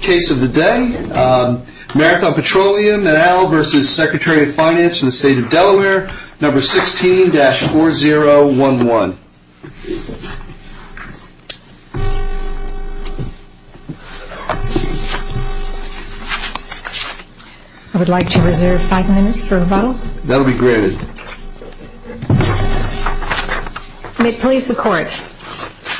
Case of the day, Marathon Petroleum et al. v. Secretary of Finance for the state of Delaware, No. 16-4011. I would like to reserve five minutes for rebuttal. That'll be granted. May it please the Court.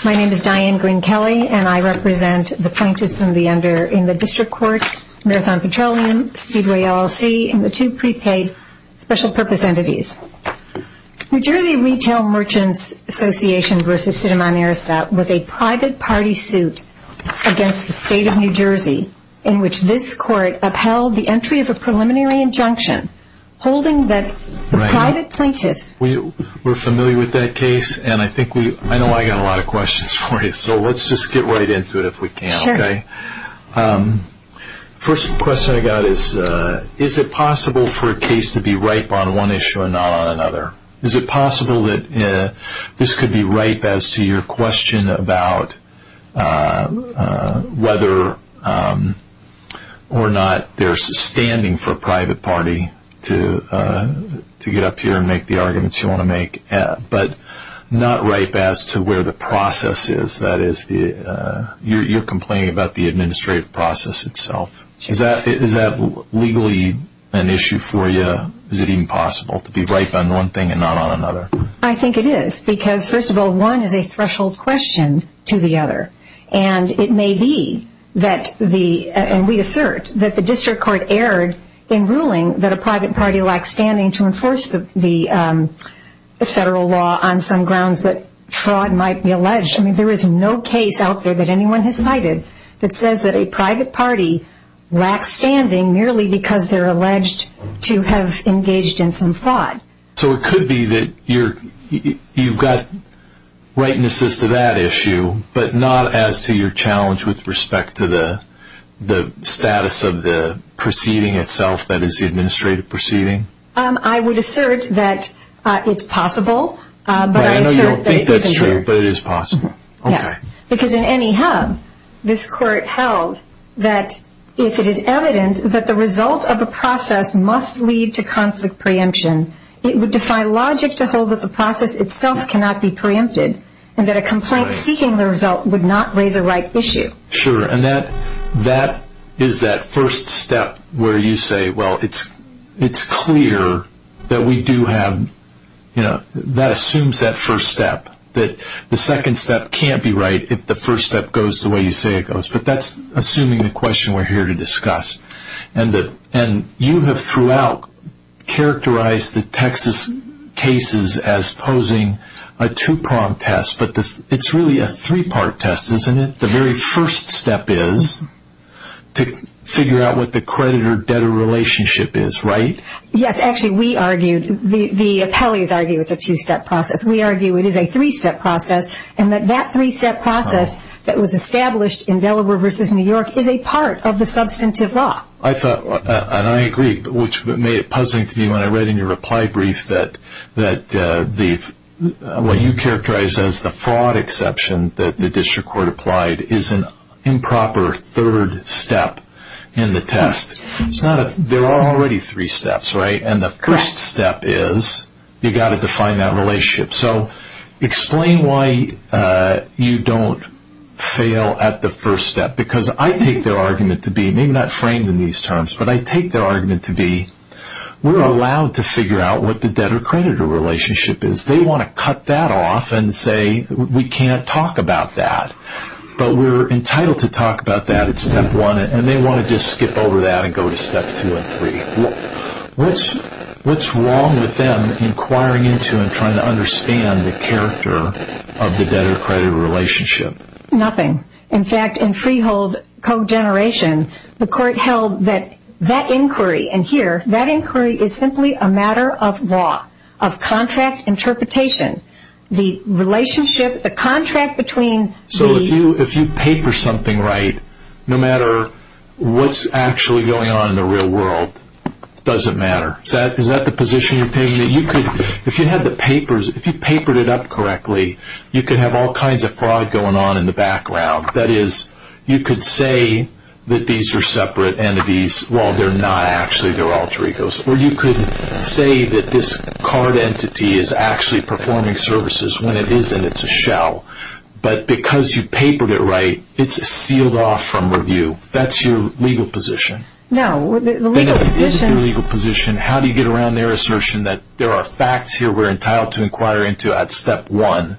My name is Diane Green-Kelley, and I represent the plaintiffs in the District Court, Marathon Petroleum, Speedway LLC, and the two prepaid special purpose entities. New Jersey Retail Merchants Association v. Cinnamon Airstat was a private party suit against the state of New Jersey, in which this Court upheld the entry of a preliminary injunction holding that the private plaintiffs... We're familiar with that case, and I think we... I know I've got a lot of questions for you, so let's just get right into it if we can. Sure. First question I've got is, is it possible for a case to be ripe on one issue and not on another? Is it possible that this could be ripe as to your question about whether or not there's standing for a private party to get up here and make the arguments you want to make, but not ripe as to where the process is? That is, you're complaining about the administrative process itself. Is that legally an issue for you? Is it even possible to be ripe on one thing and not on another? I think it is, because, first of all, one is a threshold question to the other, and it may be that the... And we assert that the District Court erred in ruling that a private party lacks standing to enforce the federal law on some grounds that fraud might be alleged. There is no case out there that anyone has cited that says that a private party lacks standing merely because they're alleged to have engaged in some fraud. So it could be that you've got ripeness to that issue, but not as to your challenge with respect to the status of the proceeding itself that is the administrative proceeding? I would assert that it's possible. I know you don't think that's true, but it is possible. Yes, because in any hub, this Court held that if it is evident that the result of the process must lead to conflict preemption, it would define logic to hold that the process itself cannot be preempted and that a complaint seeking the result would not raise a ripe issue. Sure, and that is that first step where you say, well, it's clear that we do have... That assumes that first step, that the second step can't be right if the first step goes the way you say it goes. But that's assuming the question we're here to discuss. And you have throughout characterized the Texas cases as posing a two-prong test, but it's really a three-part test, isn't it? That the very first step is to figure out what the creditor-debtor relationship is, right? Yes, actually, we argued, the appellees argued it's a two-step process. We argue it is a three-step process and that that three-step process that was established in Delaware v. New York is a part of the substantive law. I thought, and I agree, which made it puzzling to me when I read in your reply brief that what you characterized as the fraud exception that the district court applied is an improper third step in the test. There are already three steps, right? And the first step is you've got to define that relationship. So explain why you don't fail at the first step. Because I take their argument to be, maybe not framed in these terms, but I take their argument to be we're allowed to figure out what the debtor-creditor relationship is. They want to cut that off and say we can't talk about that. But we're entitled to talk about that at step one and they want to just skip over that and go to step two and three. What's wrong with them inquiring into and trying to understand the character of the debtor-creditor relationship? Nothing. In fact, in Freehold co-generation, the court held that that inquiry, and here, that inquiry is simply a matter of law, of contract interpretation. The relationship, the contract between the... It doesn't matter. Is that the position you're taking? If you had the papers, if you papered it up correctly, you could have all kinds of fraud going on in the background. That is, you could say that these are separate entities while they're not actually. They're alter egos. Or you could say that this card entity is actually performing services when it isn't. It's a shell. But because you papered it right, it's sealed off from review. That's your legal position. No, the legal position... That is your legal position. How do you get around their assertion that there are facts here we're entitled to inquire into at step one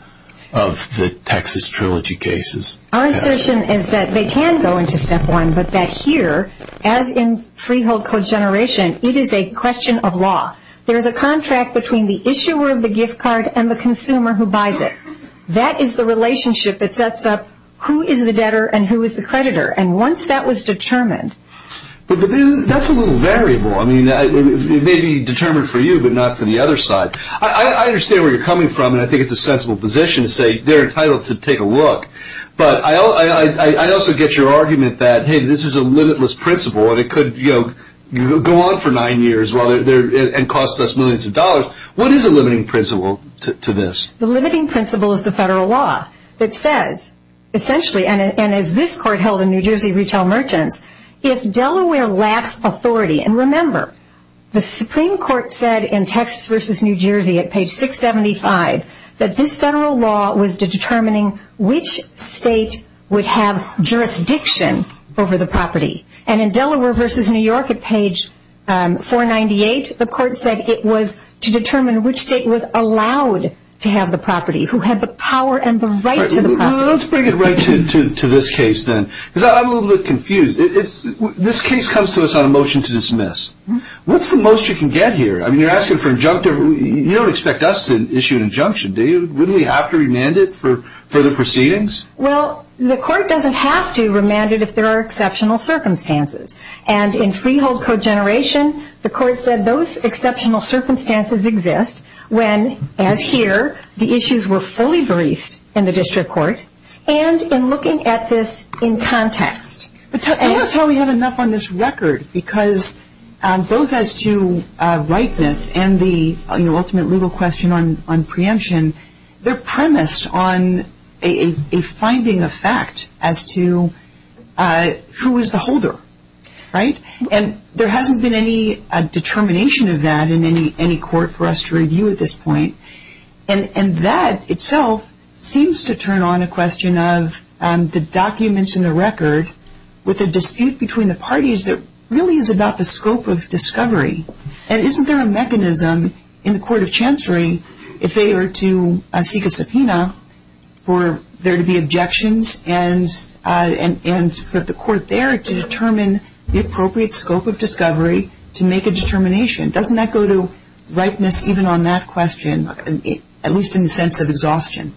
of the Texas Trilogy cases? Our assertion is that they can go into step one, but that here, as in Freehold co-generation, it is a question of law. There is a contract between the issuer of the gift card and the consumer who buys it. That is the relationship that sets up who is the debtor and who is the creditor. And once that was determined... But that's a little variable. I mean, it may be determined for you, but not for the other side. I understand where you're coming from, and I think it's a sensible position to say they're entitled to take a look. But I also get your argument that, hey, this is a limitless principle, and it could go on for nine years and cost us millions of dollars. What is a limiting principle to this? The limiting principle is the federal law that says, essentially, and as this court held in New Jersey Retail Merchants, if Delaware lacks authority, and remember, the Supreme Court said in Texas v. New Jersey at page 675 that this federal law was determining which state would have jurisdiction over the property. And in Delaware v. New York at page 498, the court said it was to determine which state was allowed to have the property, who had the power and the right to the property. Let's bring it right to this case, then, because I'm a little bit confused. This case comes to us on a motion to dismiss. What's the most you can get here? I mean, you're asking for injunctive. You don't expect us to issue an injunction, do you? Wouldn't we have to remand it for further proceedings? Well, the court doesn't have to remand it if there are exceptional circumstances. And in Freehold Code Generation, the court said those exceptional circumstances exist when, as here, the issues were fully briefed in the district court and in looking at this in context. Tell me how we have enough on this record, because both as to rightness and the ultimate legal question on preemption, they're premised on a finding of fact as to who is the holder, right? And there hasn't been any determination of that in any court for us to review at this point. And that itself seems to turn on a question of the documents in the record with a dispute between the parties that really is about the scope of discovery. And isn't there a mechanism in the court of chancery if they were to seek a subpoena for there to be objections and for the court there to determine the appropriate scope of discovery to make a determination? Doesn't that go to rightness even on that question, at least in the sense of exhaustion?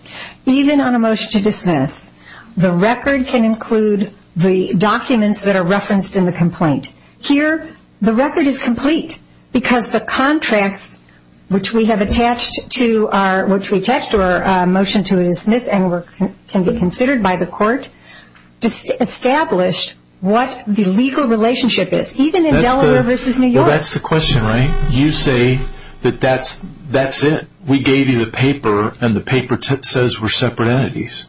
Even on a motion to dismiss, the record can include the documents that are referenced in the complaint. Here, the record is complete because the contracts which we have attached to our motion to dismiss and can be considered by the court established what the legal relationship is, even in Delaware versus New York. Well, that's the question, right? You say that that's it. We gave you the paper, and the paper says we're separate entities.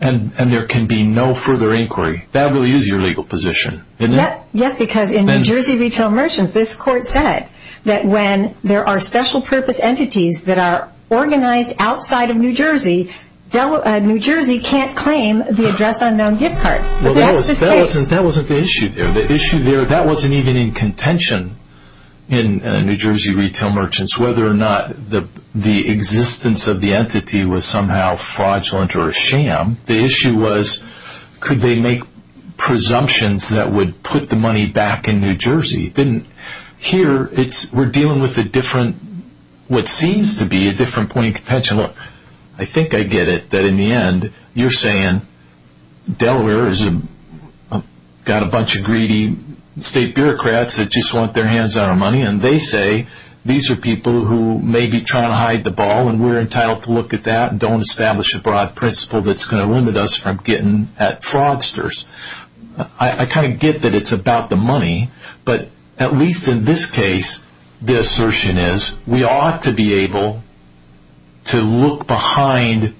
And there can be no further inquiry. That really is your legal position, isn't it? Yes, because in New Jersey Retail Merchants, this court said that when there are special purpose entities that are organized outside of New Jersey, New Jersey can't claim the address unknown gift cards. That wasn't the issue there. The issue there, that wasn't even in contention in New Jersey Retail Merchants, whether or not the existence of the entity was somehow fraudulent or a sham. The issue was could they make presumptions that would put the money back in New Jersey. Here, we're dealing with what seems to be a different point of contention. Look, I think I get it, that in the end, you're saying Delaware has got a bunch of greedy state bureaucrats that just want their hands on our money, and they say these are people who may be trying to hide the ball, and we're entitled to look at that, and don't establish a broad principle that's going to limit us from getting at fraudsters. I kind of get that it's about the money, but at least in this case, the assertion is we ought to be able to look behind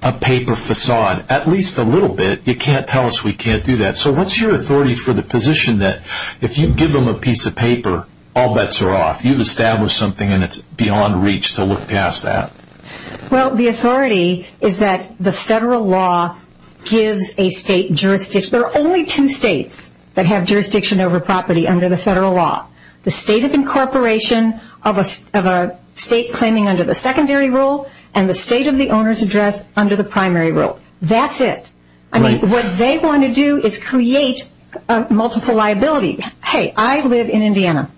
a paper facade at least a little bit. You can't tell us we can't do that. So what's your authority for the position that if you give them a piece of paper, all bets are off? If you establish something and it's beyond reach to look past that. Well, the authority is that the federal law gives a state jurisdiction. There are only two states that have jurisdiction over property under the federal law. The state of incorporation of a state claiming under the secondary rule and the state of the owner's address under the primary rule. That's it. What they want to do is create a multiple liability. Hey, I live in Indiana.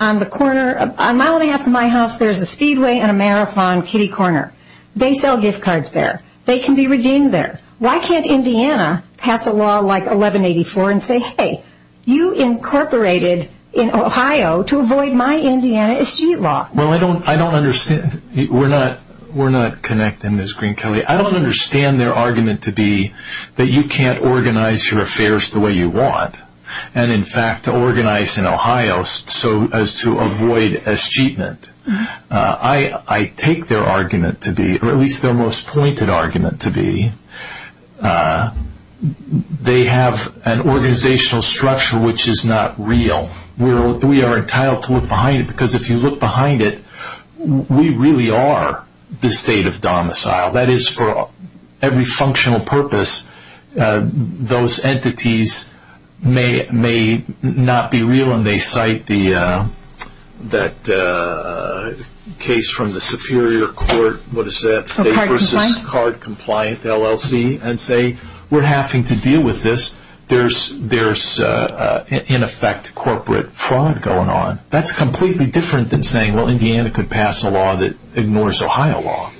On the corner, a mile and a half from my house, there's a speedway and a marathon kitty corner. They sell gift cards there. They can be redeemed there. Why can't Indiana pass a law like 1184 and say, hey, you incorporated in Ohio to avoid my Indiana street law? Well, I don't understand. We're not connected, Ms. Green-Kelley. I don't understand their argument to be that you can't organize your affairs the way you want. And, in fact, organize in Ohio so as to avoid escheatment. I take their argument to be, or at least their most pointed argument to be, they have an organizational structure which is not real. We are entitled to look behind it because if you look behind it, we really are the state of domicile. That is, for every functional purpose, those entities may not be real and they cite that case from the Superior Court. What is that? State versus card compliant, LLC, and say, we're having to deal with this. There's, in effect, corporate fraud going on. That's completely different than saying, well, Indiana could pass a law that ignores Ohio law.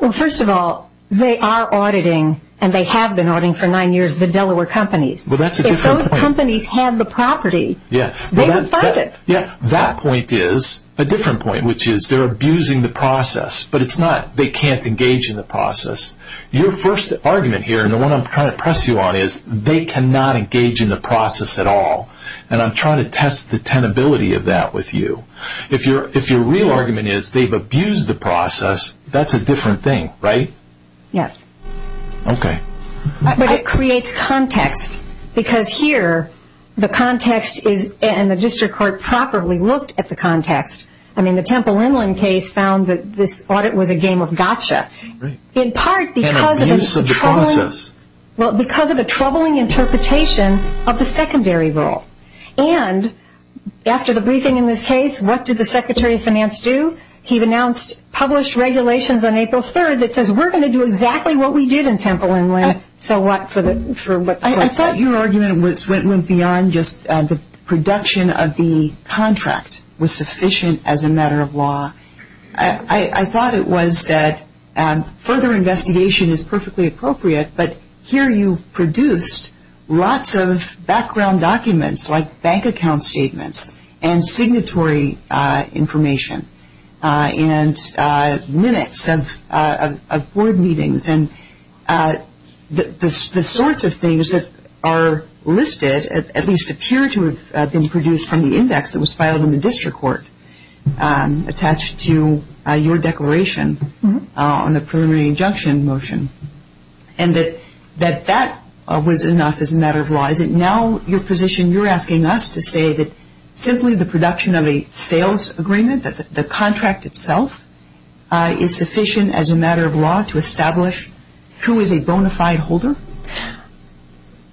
Well, first of all, they are auditing, and they have been auditing for nine years, the Delaware companies. If those companies had the property, they would fight it. That point is a different point, which is they're abusing the process, but it's not they can't engage in the process. Your first argument here, and the one I'm trying to press you on, is they cannot engage in the process at all. And I'm trying to test the tenability of that with you. If your real argument is they've abused the process, that's a different thing, right? Yes. Okay. But it creates context, because here, the context is, and the district court properly looked at the context. I mean, the Temple Inland case found that this audit was a game of gotcha, in part because of a troubling interpretation of the secondary role. And after the briefing in this case, what did the Secretary of Finance do? He announced published regulations on April 3rd that says, we're going to do exactly what we did in Temple Inland. So what? I thought your argument went beyond just the production of the contract was sufficient as a matter of law. I thought it was that further investigation is perfectly appropriate, but here you've produced lots of background documents like bank account statements and signatory information and minutes of board meetings. And the sorts of things that are listed at least appear to have been produced from the index that was filed in the district court attached to your declaration on the preliminary injunction motion. And that that was enough as a matter of law. Is it now your position you're asking us to say that simply the production of a sales agreement, that the contract itself is sufficient as a matter of law to establish who is a bona fide holder?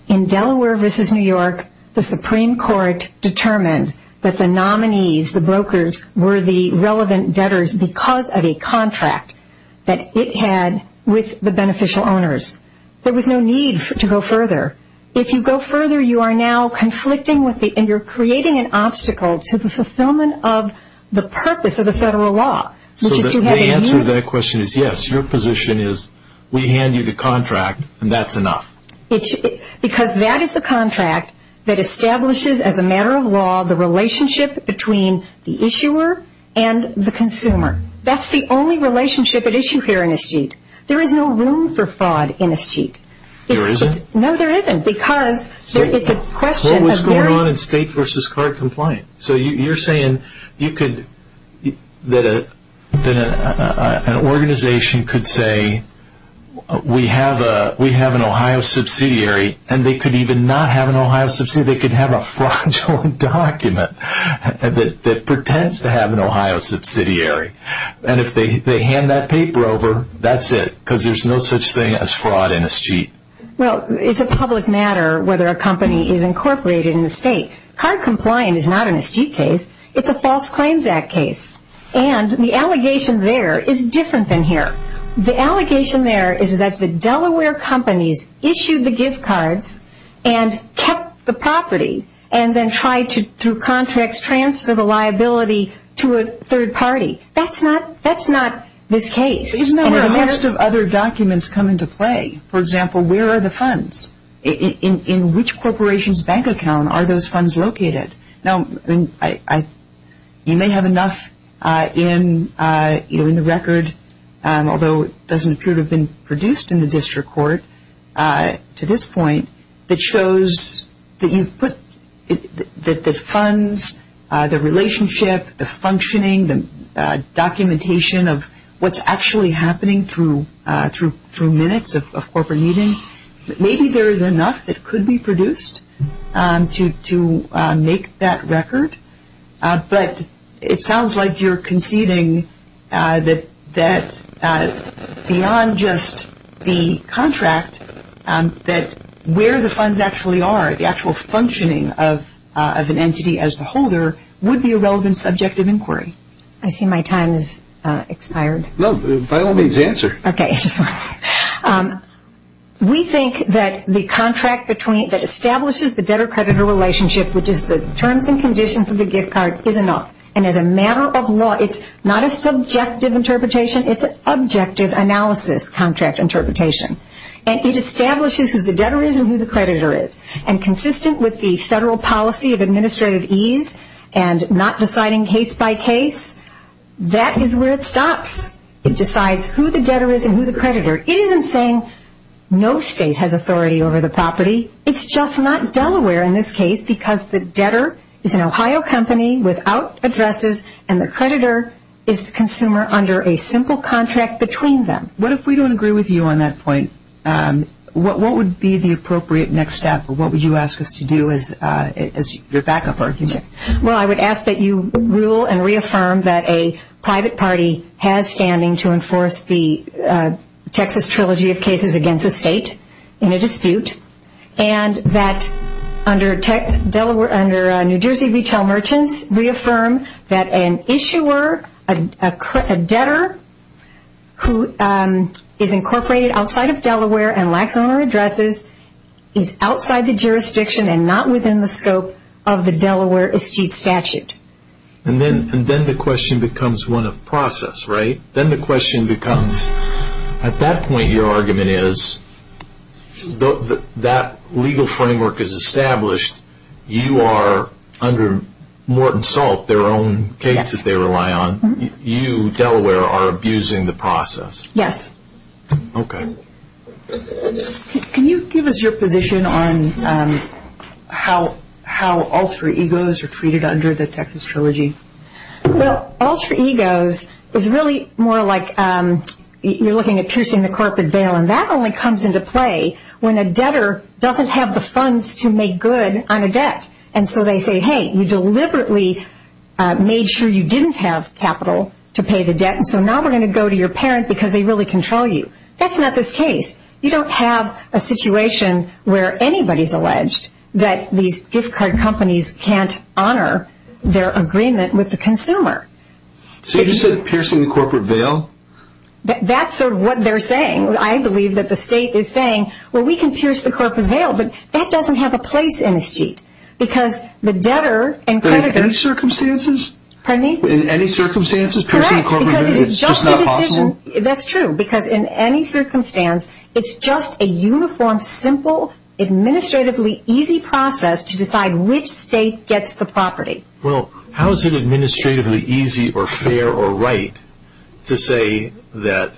In Delaware v. New York, the Supreme Court determined that the nominees, the brokers, were the relevant debtors because of a contract that it had with the beneficial owners. There was no need to go further. If you go further, you are now conflicting with the, and you're creating an obstacle to the fulfillment of the purpose of the federal law. So the answer to that question is yes. Your position is we hand you the contract and that's enough. Because that is the contract that establishes, as a matter of law, the relationship between the issuer and the consumer. That's the only relationship at issue here in Eschete. There is no room for fraud in Eschete. There isn't? No, there isn't. Because it's a question of very... What was going on in state v. card compliance? So you're saying that an organization could say we have an Ohio subsidiary and they could even not have an Ohio subsidiary, they could have a fraudulent document that pretends to have an Ohio subsidiary. And if they hand that paper over, that's it. Because there's no such thing as fraud in Eschete. Well, it's a public matter whether a company is incorporated in the state. Card compliance is not an Eschete case. It's a False Claims Act case. And the allegation there is different than here. The allegation there is that the Delaware companies issued the gift cards and kept the property and then tried to, through contracts, transfer the liability to a third party. That's not this case. Isn't that where most of other documents come into play? For example, where are the funds? In which corporation's bank account are those funds located? Now, you may have enough in the record, although it doesn't appear to have been produced in the district court to this point, that shows that you've put the funds, the relationship, the functioning, the documentation of what's actually happening through minutes of corporate meetings. Maybe there is enough that could be produced to make that record, but it sounds like you're conceding that beyond just the contract, that where the funds actually are, the actual functioning of an entity as the holder, would be a relevant subject of inquiry. I see my time has expired. No, by all means, answer. Okay. We think that the contract that establishes the debtor-creditor relationship, which is the terms and conditions of the gift card, is enough. And as a matter of law, it's not a subjective interpretation. It's an objective analysis contract interpretation. And it establishes who the debtor is and who the creditor is. And consistent with the federal policy of administrative ease and not deciding case by case, that is where it stops. It decides who the debtor is and who the creditor. It isn't saying no state has authority over the property. It's just not Delaware in this case, because the debtor is an Ohio company without addresses, and the creditor is the consumer under a simple contract between them. What if we don't agree with you on that point? What would be the appropriate next step, or what would you ask us to do as your backup argument? Well, I would ask that you rule and reaffirm that a private party has standing to enforce the Texas Trilogy of Cases Against a State in a dispute, and that under New Jersey Retail Merchants, reaffirm that an issuer, a debtor, who is incorporated outside of Delaware and lacks owner addresses, is outside the jurisdiction and not within the scope of the Delaware estate statute. And then the question becomes one of process, right? Then the question becomes, at that point your argument is, that legal framework is established. You are, under Morton Salt, their own case that they rely on, you, Delaware, are abusing the process. Yes. Okay. Can you give us your position on how alter egos are treated under the Texas Trilogy? Well, alter egos is really more like you're looking at piercing the corporate veil, and that only comes into play when a debtor doesn't have the funds to make good on a debt. And so they say, hey, you deliberately made sure you didn't have capital to pay the debt, and so now we're going to go to your parent because they really control you. That's not this case. You don't have a situation where anybody is alleged that these gift card companies can't honor their agreement with the consumer. So you just said piercing the corporate veil? That's sort of what they're saying. I believe that the state is saying, well, we can pierce the corporate veil, but that doesn't have a place in this sheet because the debtor and creditors. In any circumstances? Pardon me? In any circumstances piercing the corporate veil is just not possible? Correct, because it is just a decision. That's true, because in any circumstance, it's just a uniform, simple, administratively easy process to decide which state gets the property. Well, how is it administratively easy or fair or right to say that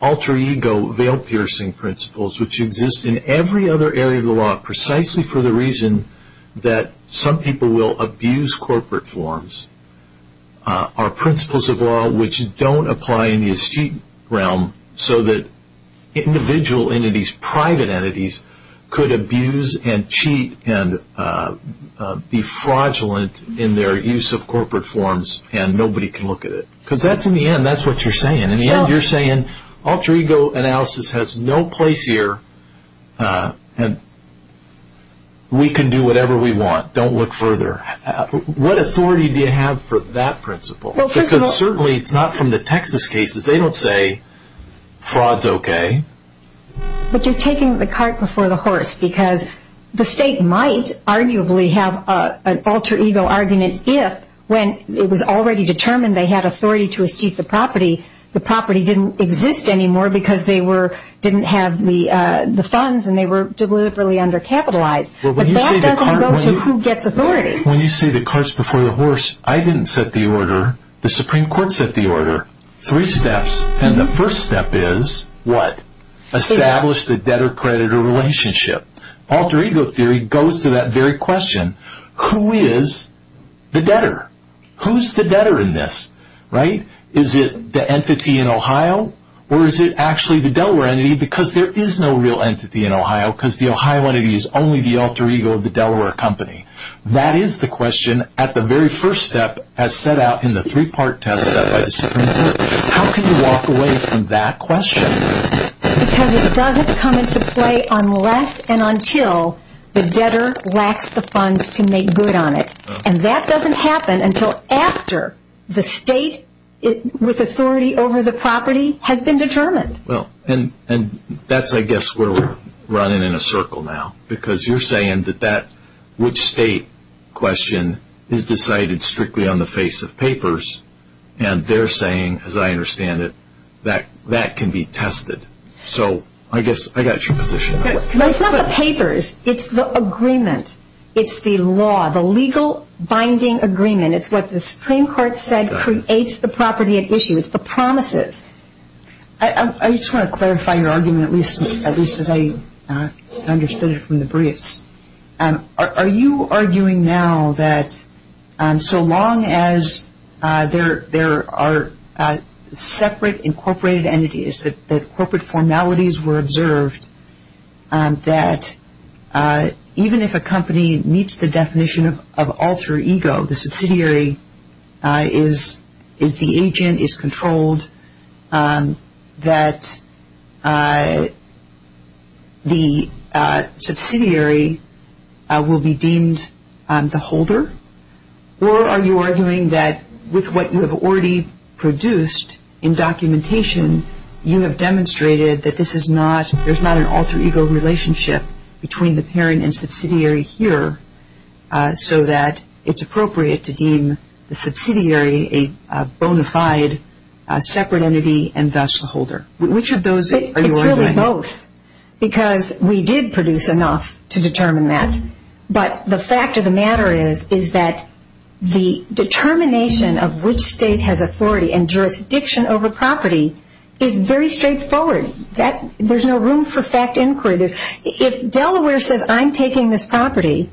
alter ego veil piercing principles, which exist in every other area of the law precisely for the reason that some people will abuse corporate forms, are principles of law which don't apply in the estate realm so that individual entities, private entities, could abuse and cheat and be fraudulent in their use of corporate forms and nobody can look at it? Because in the end, that's what you're saying. In the end, you're saying alter ego analysis has no place here and we can do whatever we want. Don't look further. What authority do you have for that principle? Because certainly it's not from the Texas cases. They don't say fraud is okay. But you're taking the cart before the horse because the state might arguably have an alter ego argument if when it was already determined they had authority to cheat the property, the property didn't exist anymore because they didn't have the funds and they were deliberately undercapitalized. But that doesn't go to who gets authority. When you say the cart's before the horse, I didn't set the order. The Supreme Court set the order. Three steps and the first step is what? Establish the debtor-creditor relationship. Alter ego theory goes to that very question. Who is the debtor? Who's the debtor in this? Is it the entity in Ohio or is it actually the Delaware entity because there is no real entity in Ohio because the Ohio entity is only the alter ego of the Delaware company. That is the question at the very first step as set out in the three-part test set by the Supreme Court. How can you walk away from that question? Because it doesn't come into play unless and until the debtor lacks the funds to make good on it. And that doesn't happen until after the state with authority over the property has been determined. And that's, I guess, where we're running in a circle now. Because you're saying that that which state question is decided strictly on the face of papers and they're saying, as I understand it, that that can be tested. So I guess I got your position. It's not the papers. It's the agreement. It's the law, the legal binding agreement. It's what the Supreme Court said creates the property at issue. It's the promises. I just want to clarify your argument, at least as I understood it from the briefs. Are you arguing now that so long as there are separate incorporated entities, that corporate formalities were observed, that even if a company meets the definition of alter ego, the subsidiary is the agent, is controlled, that the subsidiary will be deemed the holder? Or are you arguing that with what you have already produced in documentation, you have demonstrated that this is not, there's not an alter ego relationship between the parent and subsidiary here so that it's appropriate to deem the subsidiary a bona fide separate entity and thus the holder? Which of those are you arguing? It's really both because we did produce enough to determine that. But the fact of the matter is that the determination of which state has authority and jurisdiction over property is very straightforward. There's no room for fact inquiry. If Delaware says I'm taking this property,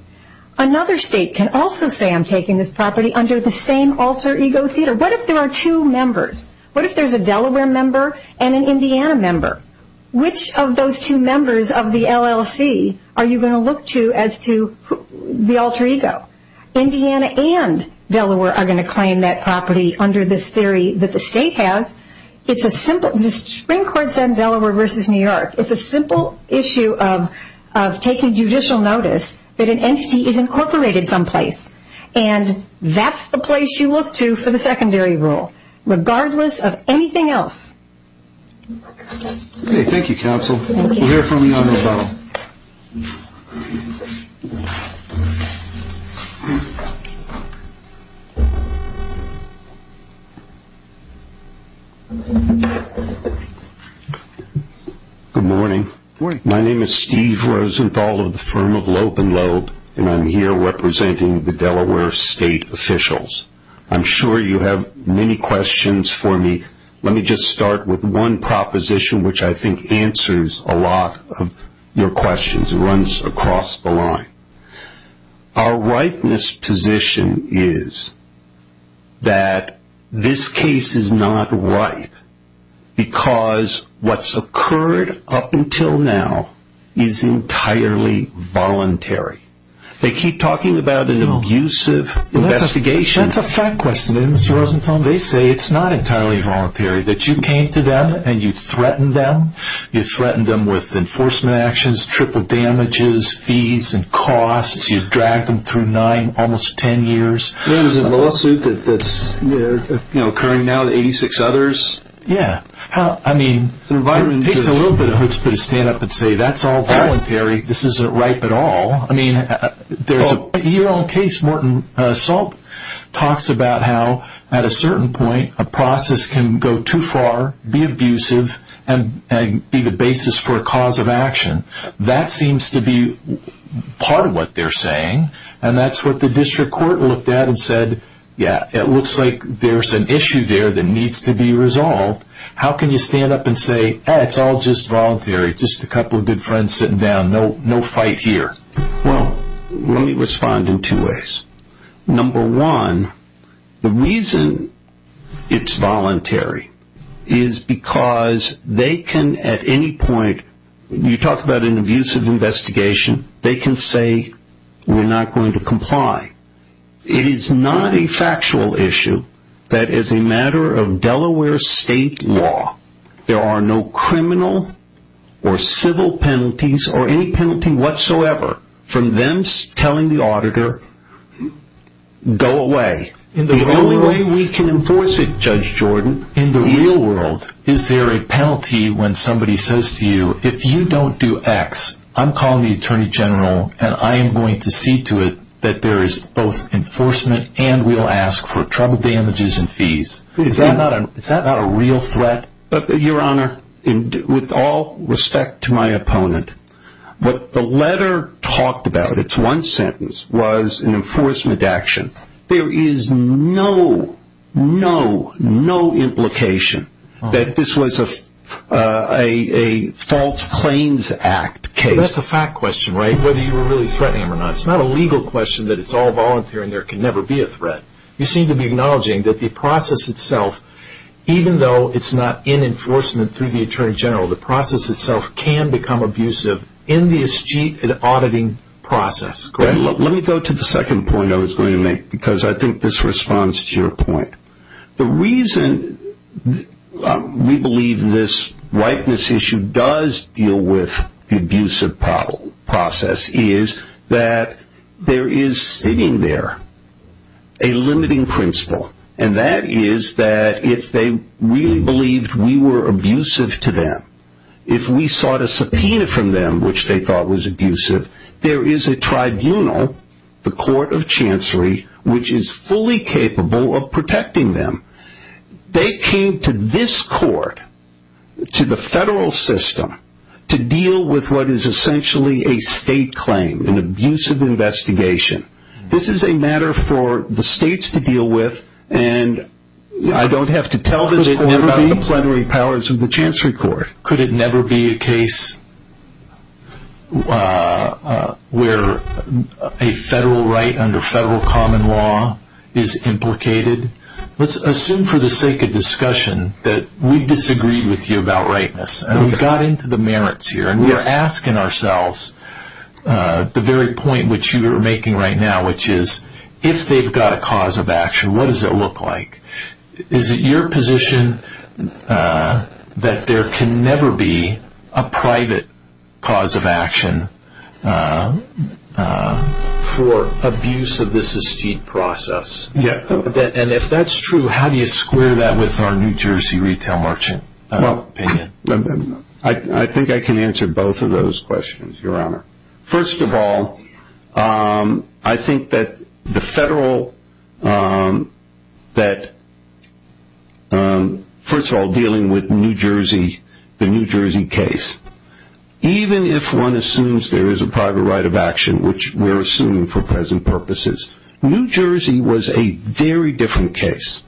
another state can also say I'm taking this property under the same alter ego theater. What if there are two members? What if there's a Delaware member and an Indiana member? Which of those two members of the LLC are you going to look to as to the alter ego? Indiana and Delaware are going to claim that property under this theory that the state has. It's a simple, the Supreme Court said Delaware versus New York. It's a simple issue of taking judicial notice that an entity is incorporated someplace and that's the place you look to for the secondary rule regardless of anything else. Thank you, counsel. We'll hear from you on the phone. Good morning. My name is Steve Rosenthal of the firm of Loeb & Loeb, and I'm here representing the Delaware state officials. I'm sure you have many questions for me. Let me just start with one proposition which I think answers a lot of your questions. It runs across the line. Our ripeness position is that this case is not ripe because what's occurred up until now is entirely voluntary. They keep talking about an abusive investigation. That's a fact question. They say it's not entirely voluntary, that you came to them and you threatened them. You threatened them with enforcement actions, triple damages, fees and costs. You dragged them through nine, almost ten years. There's a lawsuit that's occurring now with 86 others. Yeah. I mean, it takes a little bit of hoops to stand up and say that's all voluntary. This isn't ripe at all. Your own case, Morton Salt, talks about how at a certain point a process can go too far, be abusive, and be the basis for a cause of action. That seems to be part of what they're saying, and that's what the district court looked at and said, yeah, it looks like there's an issue there that needs to be resolved. How can you stand up and say, it's all just voluntary, just a couple of good friends sitting down, no fight here? Well, let me respond in two ways. Number one, the reason it's voluntary is because they can at any point, you talk about an abusive investigation, they can say we're not going to comply. It is not a factual issue that as a matter of Delaware state law, there are no criminal or civil penalties or any penalty whatsoever from them telling the auditor, go away. The only way we can enforce it, Judge Jordan, in the real world. Is there a penalty when somebody says to you, if you don't do X, I'm calling the attorney general and I am going to see to it that there is both enforcement and we'll ask for trouble damages and fees. Is that not a real threat? Your Honor, with all respect to my opponent, what the letter talked about, it's one sentence, was an enforcement action. There is no, no, no implication that this was a false claims act case. That's a fact question, right, whether you were really threatening him or not. It's not a legal question that it's all voluntary and there can never be a threat. You seem to be acknowledging that the process itself, even though it's not in enforcement through the attorney general, the process itself can become abusive in the eschete auditing process, correct? Let me go to the second point I was going to make because I think this responds to your point. The reason we believe this ripeness issue does deal with the abusive process is that there is sitting there a limiting principle and that is that if they really believed we were abusive to them, if we sought a subpoena from them which they thought was abusive, there is a tribunal, the court of chancery, which is fully capable of protecting them. They came to this court, to the federal system, to deal with what is essentially a state claim, an abusive investigation. This is a matter for the states to deal with and I don't have to tell this court about the plenary powers of the chancery court. Could it never be a case where a federal right under federal common law is implicated? Let's assume for the sake of discussion that we disagreed with you about ripeness and we got into the merits here and we are asking ourselves the very point which you are making right now which is if they've got a cause of action, what does it look like? Is it your position that there can never be a private cause of action for abuse of this eschete process? And if that's true, how do you square that with our New Jersey retail merchant opinion? I think I can answer both of those questions, your honor. First of all, I think that the federal, that first of all dealing with New Jersey, the New Jersey case, even if one assumes there is a private right of action which we are assuming for present purposes, New Jersey was a very different case.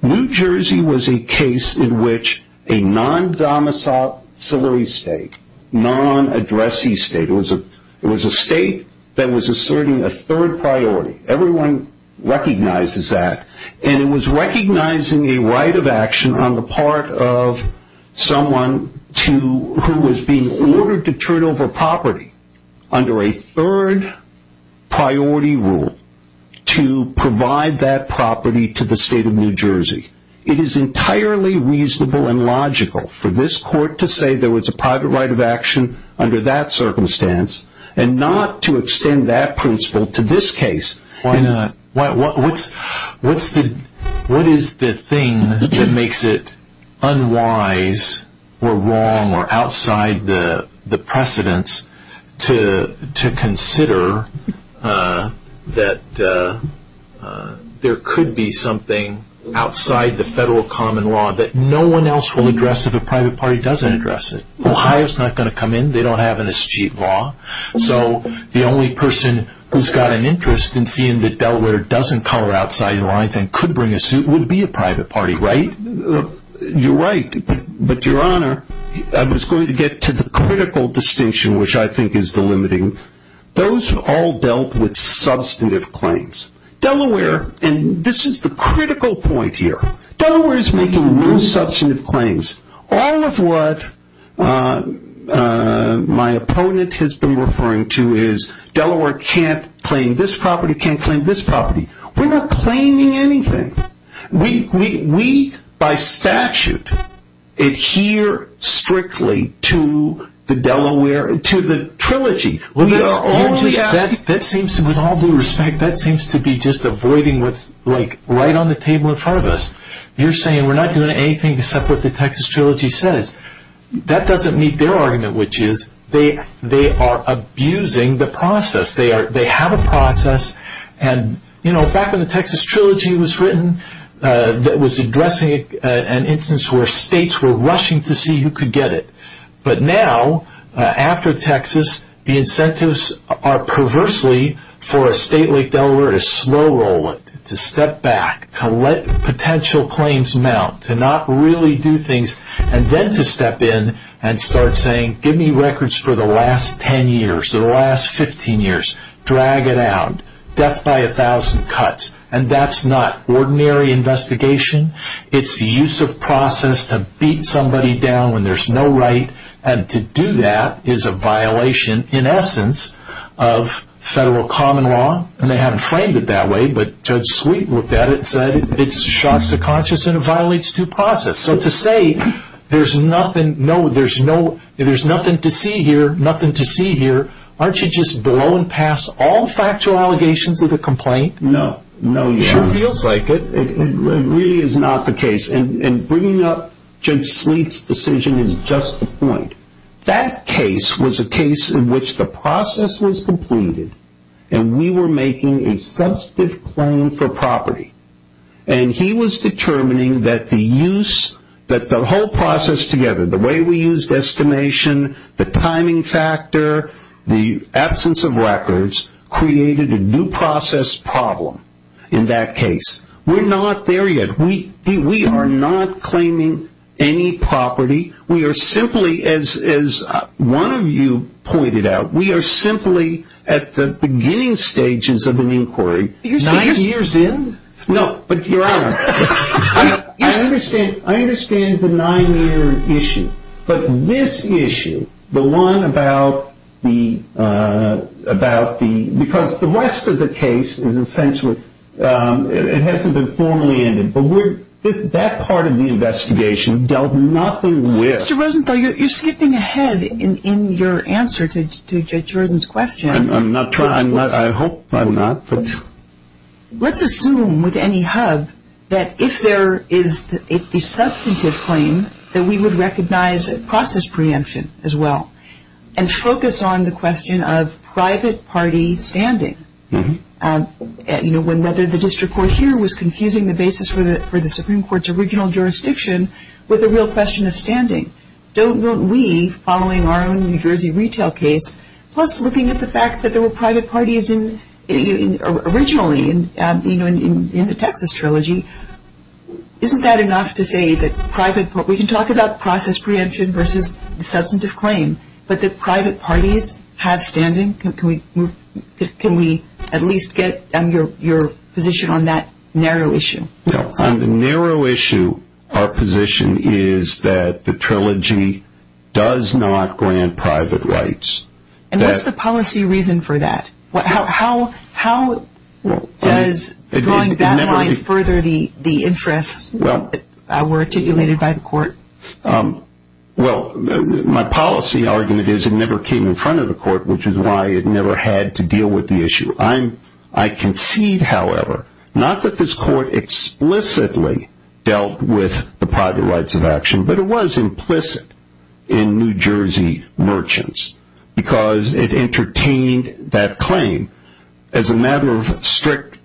New Jersey was a case in which a non-domicile state, non-addressing state, it was a state that was asserting a third priority. Everyone recognizes that and it was recognizing a right of action on the part of someone who was being ordered to turn over property under a third priority rule to provide that property to the state of New Jersey. It is entirely reasonable and logical for this court to say there was a private right of action under that circumstance and not to extend that principle to this case. Why not? What is the thing that makes it unwise or wrong or outside the precedence to consider that there could be something outside the federal common law that no one else will address if a private party doesn't address it? The hire is not going to come in. They don't have an eschete law. So the only person who's got an interest in seeing that Delaware doesn't color outside the lines and could bring a suit would be a private party, right? You're right. But, Your Honor, I was going to get to the critical distinction which I think is the limiting. Those all dealt with substantive claims. Delaware, and this is the critical point here, Delaware is making no substantive claims. All of what my opponent has been referring to is Delaware can't claim this property, can't claim this property. We're not claiming anything. We, by statute, adhere strictly to the trilogy. With all due respect, that seems to be just avoiding what's right on the table in front of us. You're saying we're not doing anything except what the Texas Trilogy says. That doesn't meet their argument, which is they are abusing the process. They have a process. And, you know, back when the Texas Trilogy was written, it was addressing an instance where states were rushing to see who could get it. But now, after Texas, the incentives are perversely for a state like Delaware to slow roll it, to step back, to let potential claims mount, to not really do things, and then to step in and start saying, give me records for the last 10 years, the last 15 years, drag it out, death by a thousand cuts. And that's not ordinary investigation. It's the use of process to beat somebody down when there's no right. And to do that is a violation, in essence, of federal common law. And they haven't framed it that way, but Judge Sweet looked at it and said, it shocks the conscious and it violates due process. So to say there's nothing to see here, nothing to see here, aren't you just blowing past all the factual allegations of the complaint? No. It sure feels like it. It really is not the case. And bringing up Judge Sweet's decision is just the point. That case was a case in which the process was completed and we were making a substantive claim for property. And he was determining that the use, that the whole process together, the way we used estimation, the timing factor, the absence of records, created a due process problem in that case. We're not there yet. We are not claiming any property. We are simply, as one of you pointed out, we are simply at the beginning stages of an inquiry. Nine years in? No, but Your Honor, I understand the nine-year issue. But this issue, the one about the rest of the case, it hasn't been formally ended. But that part of the investigation dealt nothing with. Mr. Rosenthal, you're skipping ahead in your answer to Judge Rosen's question. I'm not trying. I hope I'm not. Let's assume with any hub that if there is a substantive claim, that we would recognize process preemption as well and focus on the question of private party standing, whether the district court here was confusing the basis for the Supreme Court's with a real question of standing. Don't we, following our own New Jersey retail case, plus looking at the fact that there were private parties originally in the Texas Trilogy, isn't that enough to say that private parties, we can talk about process preemption versus substantive claim, but that private parties have standing? Can we at least get your position on that narrow issue? On the narrow issue, our position is that the Trilogy does not grant private rights. And what's the policy reason for that? How does drawing that line further the interests that were articulated by the court? Well, my policy argument is it never came in front of the court, which is why it never had to deal with the issue. I concede, however, not that this court explicitly dealt with the private rights of action, but it was implicit in New Jersey merchants, because it entertained that claim as a matter of strict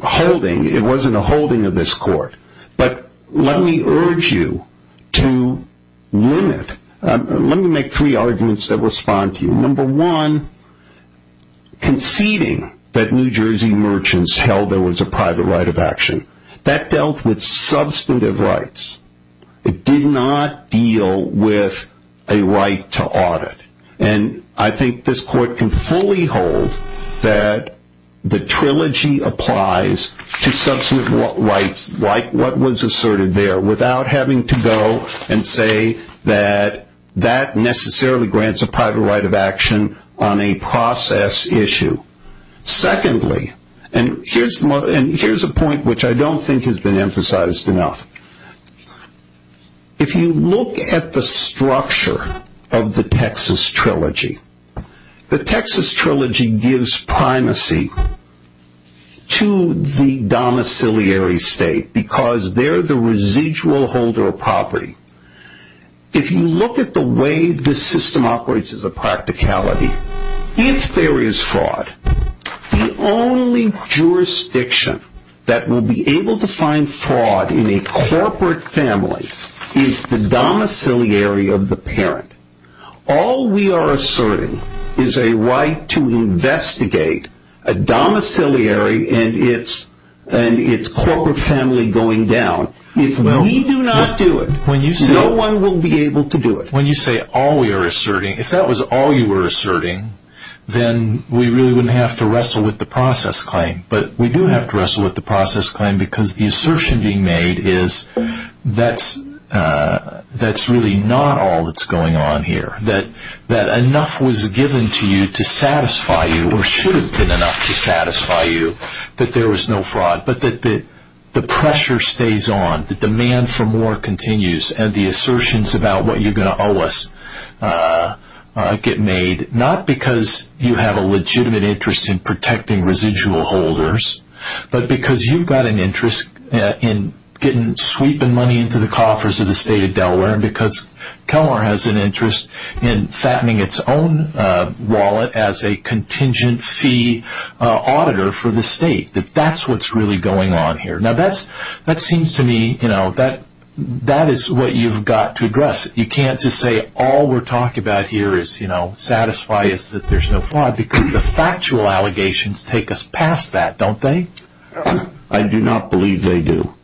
holding. It wasn't a holding of this court. But let me urge you to limit. Let me make three arguments that respond to you. Number one, conceding that New Jersey merchants held there was a private right of action, that dealt with substantive rights. It did not deal with a right to audit. And I think this court can fully hold that the Trilogy applies to substantive rights, like what was asserted there, without having to go and say that that necessarily grants a private right of action on a process issue. Secondly, and here's a point which I don't think has been emphasized enough. If you look at the structure of the Texas Trilogy, the Texas Trilogy gives primacy to the domiciliary state, because they're the residual holder of property. If you look at the way this system operates as a practicality, if there is fraud, the only jurisdiction that will be able to find fraud in a corporate family is the domiciliary of the parent. All we are asserting is a right to investigate a domiciliary and its corporate family going down. If we do not do it, no one will be able to do it. When you say all we are asserting, if that was all you were asserting, then we really wouldn't have to wrestle with the process claim. But we do have to wrestle with the process claim, because the assertion being made is that's really not all that's going on here, that enough was given to you to satisfy you, or should have been enough to satisfy you, that there was no fraud, but that the pressure stays on, the demand for more continues, and the assertions about what you're going to owe us get made, not because you have a legitimate interest in protecting residual holders, but because you've got an interest in sweeping money into the coffers of the state of Delaware, and because Kelmar has an interest in fattening its own wallet as a contingent fee auditor for the state. That's what's really going on here. That seems to me, that is what you've got to address. You can't just say all we're talking about here is satisfy us that there's no fraud, because the factual allegations take us past that, don't they? I do not believe they do.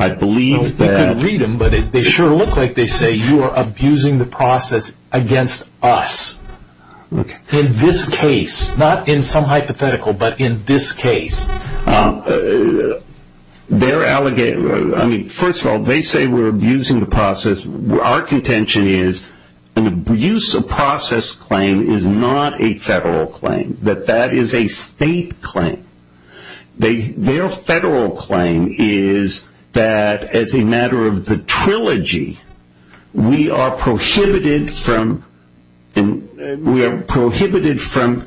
You can read them, but they sure look like they say you are abusing the process against us. In this case, not in some hypothetical, but in this case. First of all, they say we're abusing the process. Our contention is an abuse of process claim is not a federal claim, that that is a state claim. Their federal claim is that as a matter of the trilogy, we are prohibited from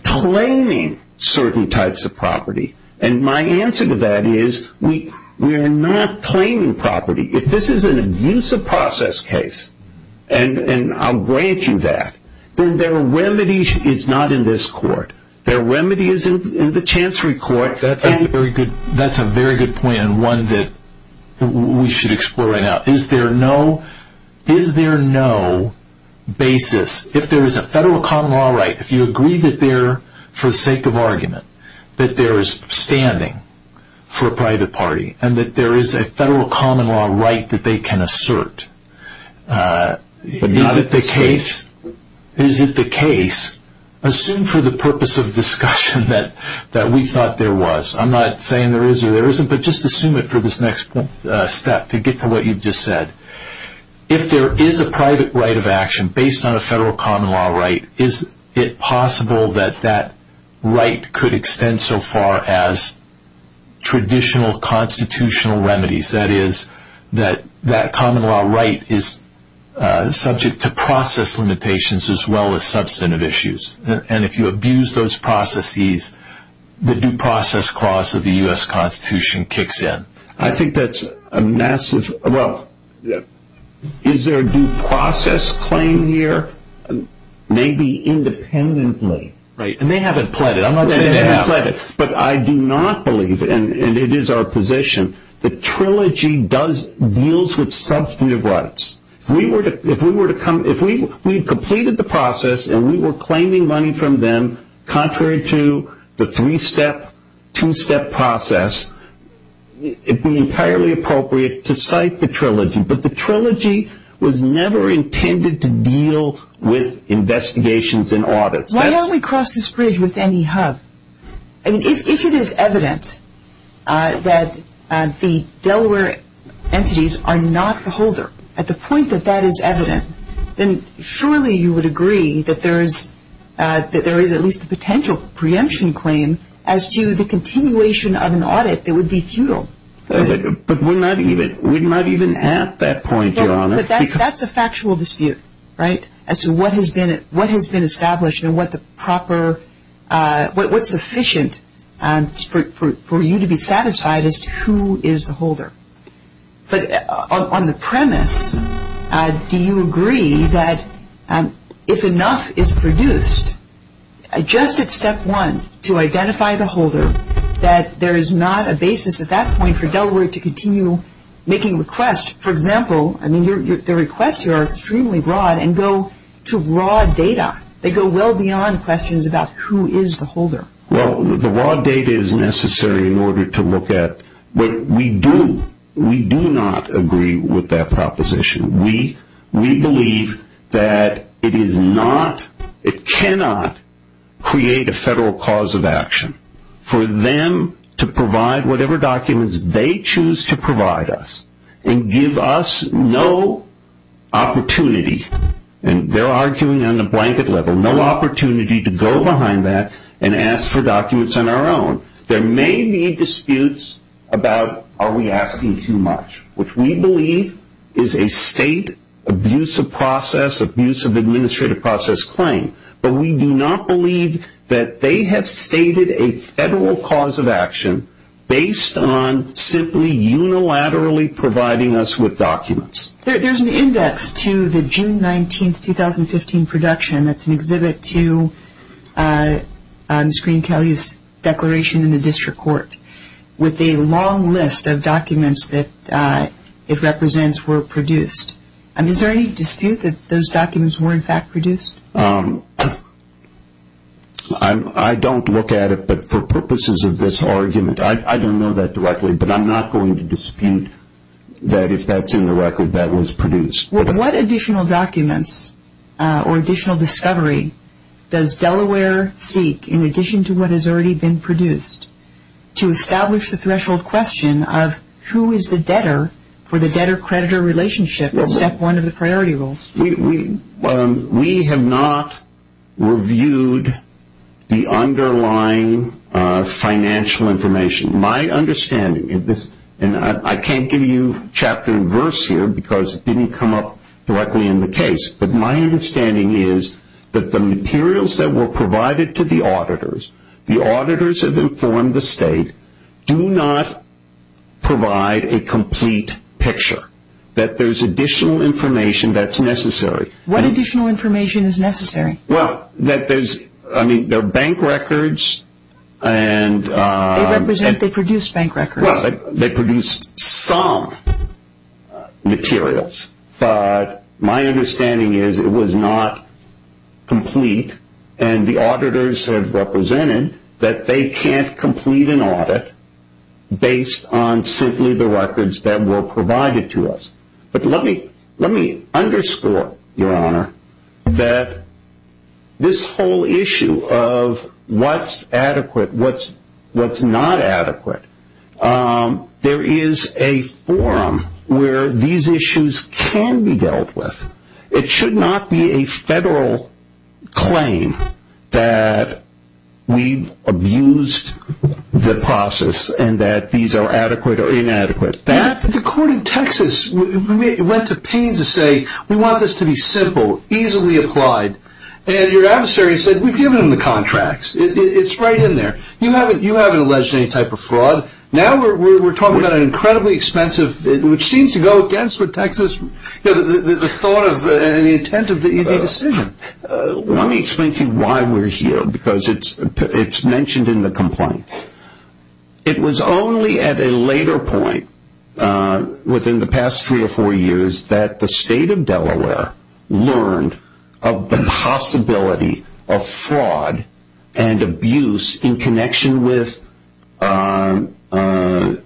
claiming certain types of property, and my answer to that is we are not claiming property. If this is an abuse of process case, and I'll grant you that, then their remedy is not in this court. Their remedy is in the Chancery Court. That's a very good point, and one that we should explore right now. Is there no basis, if there is a federal common law right, if you agree that there, for the sake of argument, that there is standing for a private party, and that there is a federal common law right that they can assert. Is it the case, assume for the purpose of discussion that we thought there was. I'm not saying there is or there isn't, but just assume it for this next step to get to what you just said. If there is a private right of action based on a federal common law right, is it possible that that right could extend so far as traditional constitutional remedies? That is, that that common law right is subject to process limitations as well as substantive issues. If you abuse those processes, the due process clause of the U.S. Constitution kicks in. I think that's a massive, well, is there a due process claim here? Maybe independently. Right, and they haven't pled it. I'm not saying they haven't pled it, but I do not believe, and it is our position, that trilogy deals with substantive rights. If we had completed the process and we were claiming money from them, contrary to the three-step, two-step process, it would be entirely appropriate to cite the trilogy. But the trilogy was never intended to deal with investigations and audits. Why don't we cross this bridge with NEHUB? If it is evident that the Delaware entities are not the holder, at the point that that is evident, then surely you would agree that there is at least a potential preemption claim as to the continuation of an audit that would be futile. But we're not even at that point, Your Honor. But that's a factual dispute, right, as to what has been established and what's sufficient for you to be satisfied as to who is the holder. But on the premise, do you agree that if enough is produced, just at step one, to identify the holder, that there is not a basis at that point for Delaware to continue making requests? For example, the requests here are extremely broad and go to raw data. They go well beyond questions about who is the holder. Well, the raw data is necessary in order to look at what we do. We do not agree with that proposition. We believe that it cannot create a federal cause of action for them to provide whatever documents they choose to provide us and give us no opportunity, and they're arguing on the blanket level, no opportunity to go behind that and ask for documents on our own. There may be disputes about are we asking too much, which we believe is a state abuse of process, abuse of administrative process claim, but we do not believe that they have stated a federal cause of action based on simply unilaterally providing us with documents. There's an index to the June 19, 2015 production. That's an exhibit to Ms. Green-Kelley's declaration in the district court with a long list of documents that it represents were produced. Is there any dispute that those documents were in fact produced? I don't look at it, but for purposes of this argument, I don't know that directly, but I'm not going to dispute that if that's in the record, that was produced. What additional documents or additional discovery does Delaware seek, in addition to what has already been produced, to establish the threshold question of who is the debtor for the debtor-creditor relationship in step one of the priority rules? We have not reviewed the underlying financial information. My understanding of this, and I can't give you chapter and verse here because it didn't come up directly in the case, but my understanding is that the materials that were provided to the auditors, the auditors have informed the state, do not provide a complete picture, that there's additional information that's necessary. What additional information is necessary? Well, that there's, I mean, there are bank records and... They represent, they produce bank records. Well, they produce some materials, but my understanding is it was not complete and the auditors have represented that they can't complete an audit based on simply the records that were provided to us. But let me underscore, Your Honor, that this whole issue of what's adequate, what's not adequate, there is a forum where these issues can be dealt with. It should not be a federal claim that we've abused the process The court in Texas went to pains to say, we want this to be simple, easily applied. And your adversary said, we've given them the contracts. It's right in there. You haven't alleged any type of fraud. Now we're talking about an incredibly expensive, which seems to go against what Texas, the thought and the intent of the decision. Let me explain to you why we're here because it's mentioned in the complaint. It was only at a later point, within the past three or four years, that the state of Delaware learned of the possibility of fraud and abuse in connection with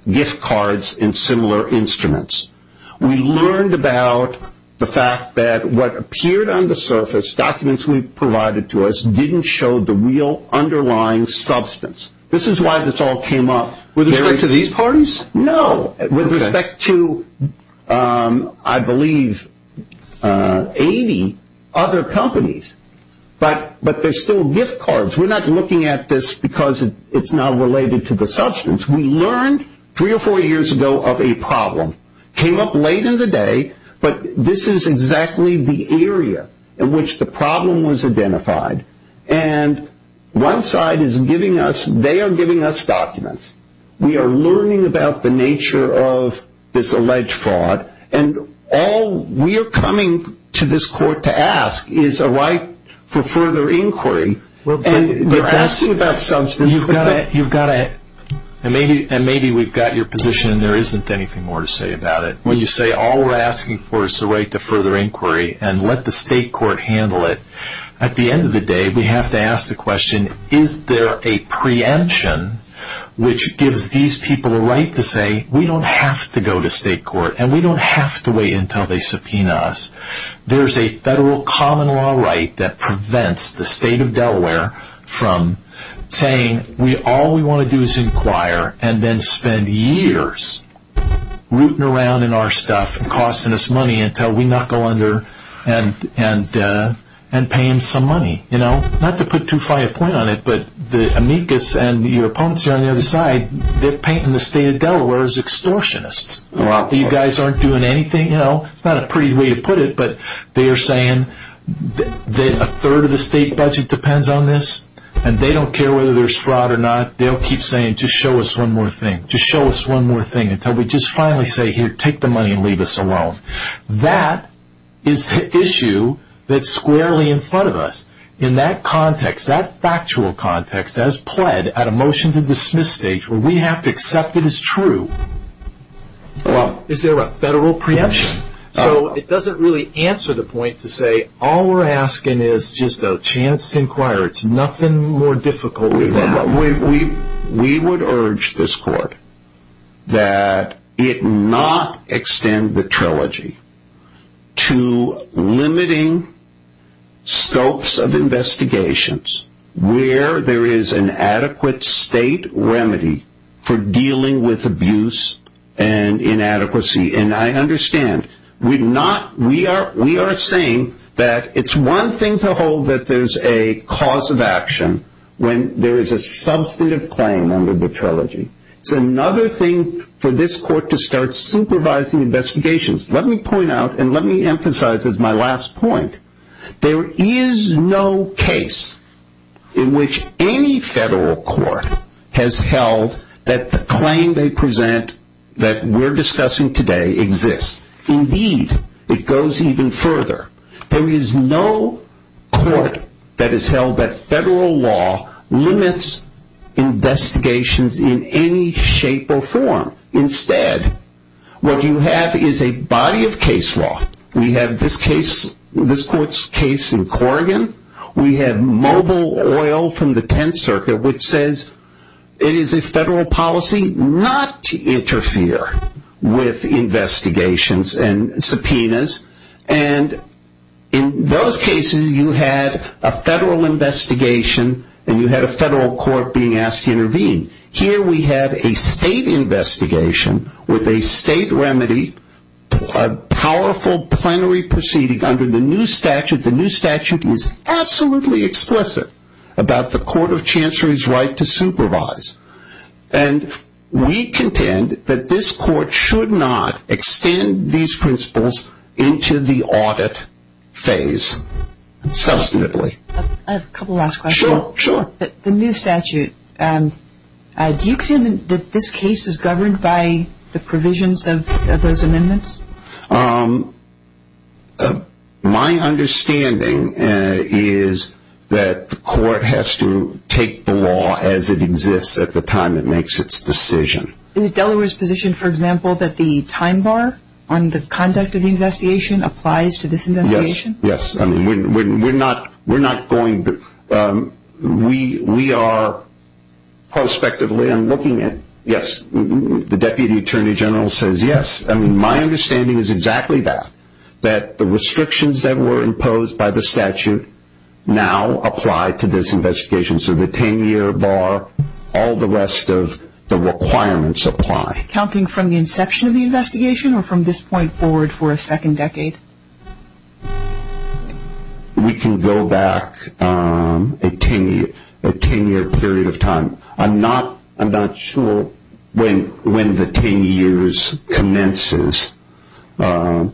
gift cards and similar instruments. We learned about the fact that what appeared on the surface, documents we provided to us, didn't show the real underlying substance. This is why this all came up. With respect to these parties? No. With respect to, I believe, 80 other companies. But there's still gift cards. We're not looking at this because it's not related to the substance. We learned three or four years ago of a problem. Came up late in the day, but this is exactly the area in which the problem was identified. And one side is giving us, they are giving us documents. We are learning about the nature of this alleged fraud. And all we are coming to this court to ask is a right for further inquiry. And they're asking about substance. And maybe we've got your position and there isn't anything more to say about it. When you say all we're asking for is the right to further inquiry and let the state court handle it, at the end of the day, we have to ask the question, is there a preemption which gives these people a right to say, we don't have to go to state court and we don't have to wait until they subpoena us. There's a federal common law right that prevents the state of Delaware from saying, all we want to do is inquire and then spend years rooting around in our stuff and costing us money until we knuckle under and pay them some money. Not to put too fine a point on it, but the amicus and your opponents on the other side, they're painting the state of Delaware as extortionists. You guys aren't doing anything. It's not a pretty way to put it, but they're saying that a third of the state budget depends on this. And they don't care whether there's fraud or not. They'll keep saying, just show us one more thing, just show us one more thing until we just finally say, here, take the money and leave us alone. That is the issue that's squarely in front of us. In that context, that factual context, that is pled at a motion to dismiss stage where we have to accept it as true. Is there a federal preemption? So it doesn't really answer the point to say, all we're asking is just a chance to inquire. It's nothing more difficult than that. We would urge this court that it not extend the trilogy to limiting scopes of investigations where there is an adequate state remedy for dealing with abuse and inadequacy. And I understand. We are saying that it's one thing to hold that there's a cause of action when there is a substantive claim under the trilogy. It's another thing for this court to start supervising investigations. Let me point out and let me emphasize as my last point, there is no case in which any federal court has held that the claim they present, that we're discussing today, exists. Indeed, it goes even further. There is no court that has held that federal law limits investigations in any shape or form. Instead, what you have is a body of case law. We have this court's case in Corrigan. We have mobile oil from the Tenth Circuit, which says it is a federal policy not to interfere with investigations and subpoenas. And in those cases, you had a federal investigation and you had a federal court being asked to intervene. Here we have a state investigation with a state remedy, a powerful plenary proceeding under the new statute. The new statute is absolutely explicit about the court of chancellors' right to supervise. And we contend that this court should not extend these principles into the audit phase substantively. I have a couple last questions. Sure, sure. The new statute, do you contend that this case is governed by the provisions of those amendments? My understanding is that the court has to take the law as it exists at the time it makes its decision. Is Delaware's position, for example, that the time bar on the conduct of the investigation applies to this investigation? Yes, yes. We're not going to, we are prospectively, I'm looking at, yes, the Deputy Attorney General says yes. I mean, my understanding is exactly that, that the restrictions that were imposed by the statute now apply to this investigation. So the 10-year bar, all the rest of the requirements apply. Are we counting from the inception of the investigation or from this point forward for a second decade? We can go back a 10-year period of time. I'm not sure when the 10 years commences. We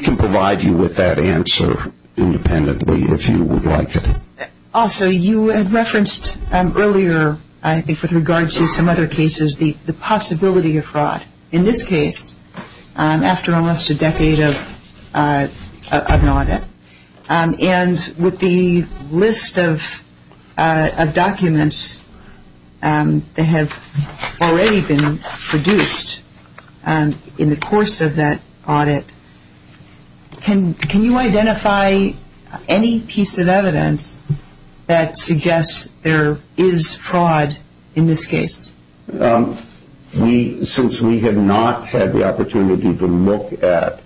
can provide you with that answer independently if you would like it. Also, you had referenced earlier, I think with regard to some other cases, the possibility of fraud. In this case, after almost a decade of an audit, and with the list of documents that have already been produced in the course of that audit, can you identify any piece of evidence that suggests there is fraud in this case? Since we have not had the opportunity to look at,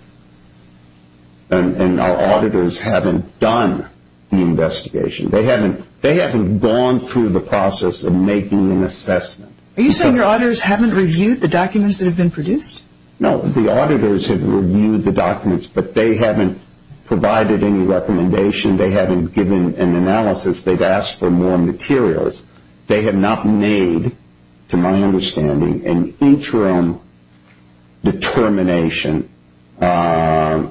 and our auditors haven't done the investigation, they haven't gone through the process of making an assessment. Are you saying your auditors haven't reviewed the documents that have been produced? No, the auditors have reviewed the documents, but they haven't provided any recommendation. They haven't given an analysis. They've asked for more materials. They have not made, to my understanding, an interim determination as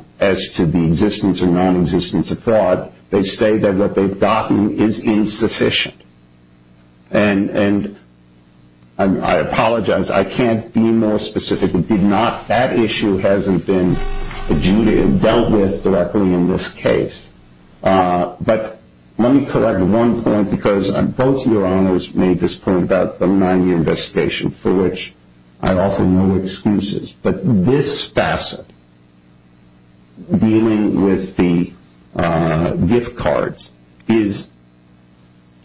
to the existence or non-existence of fraud. They say that what they've gotten is insufficient. And I apologize. I can't be more specific. That issue hasn't been dealt with directly in this case. But let me correct one point, because both your honors made this point about the nine-year investigation, for which I offer no excuses. But this facet, dealing with the gift cards, it's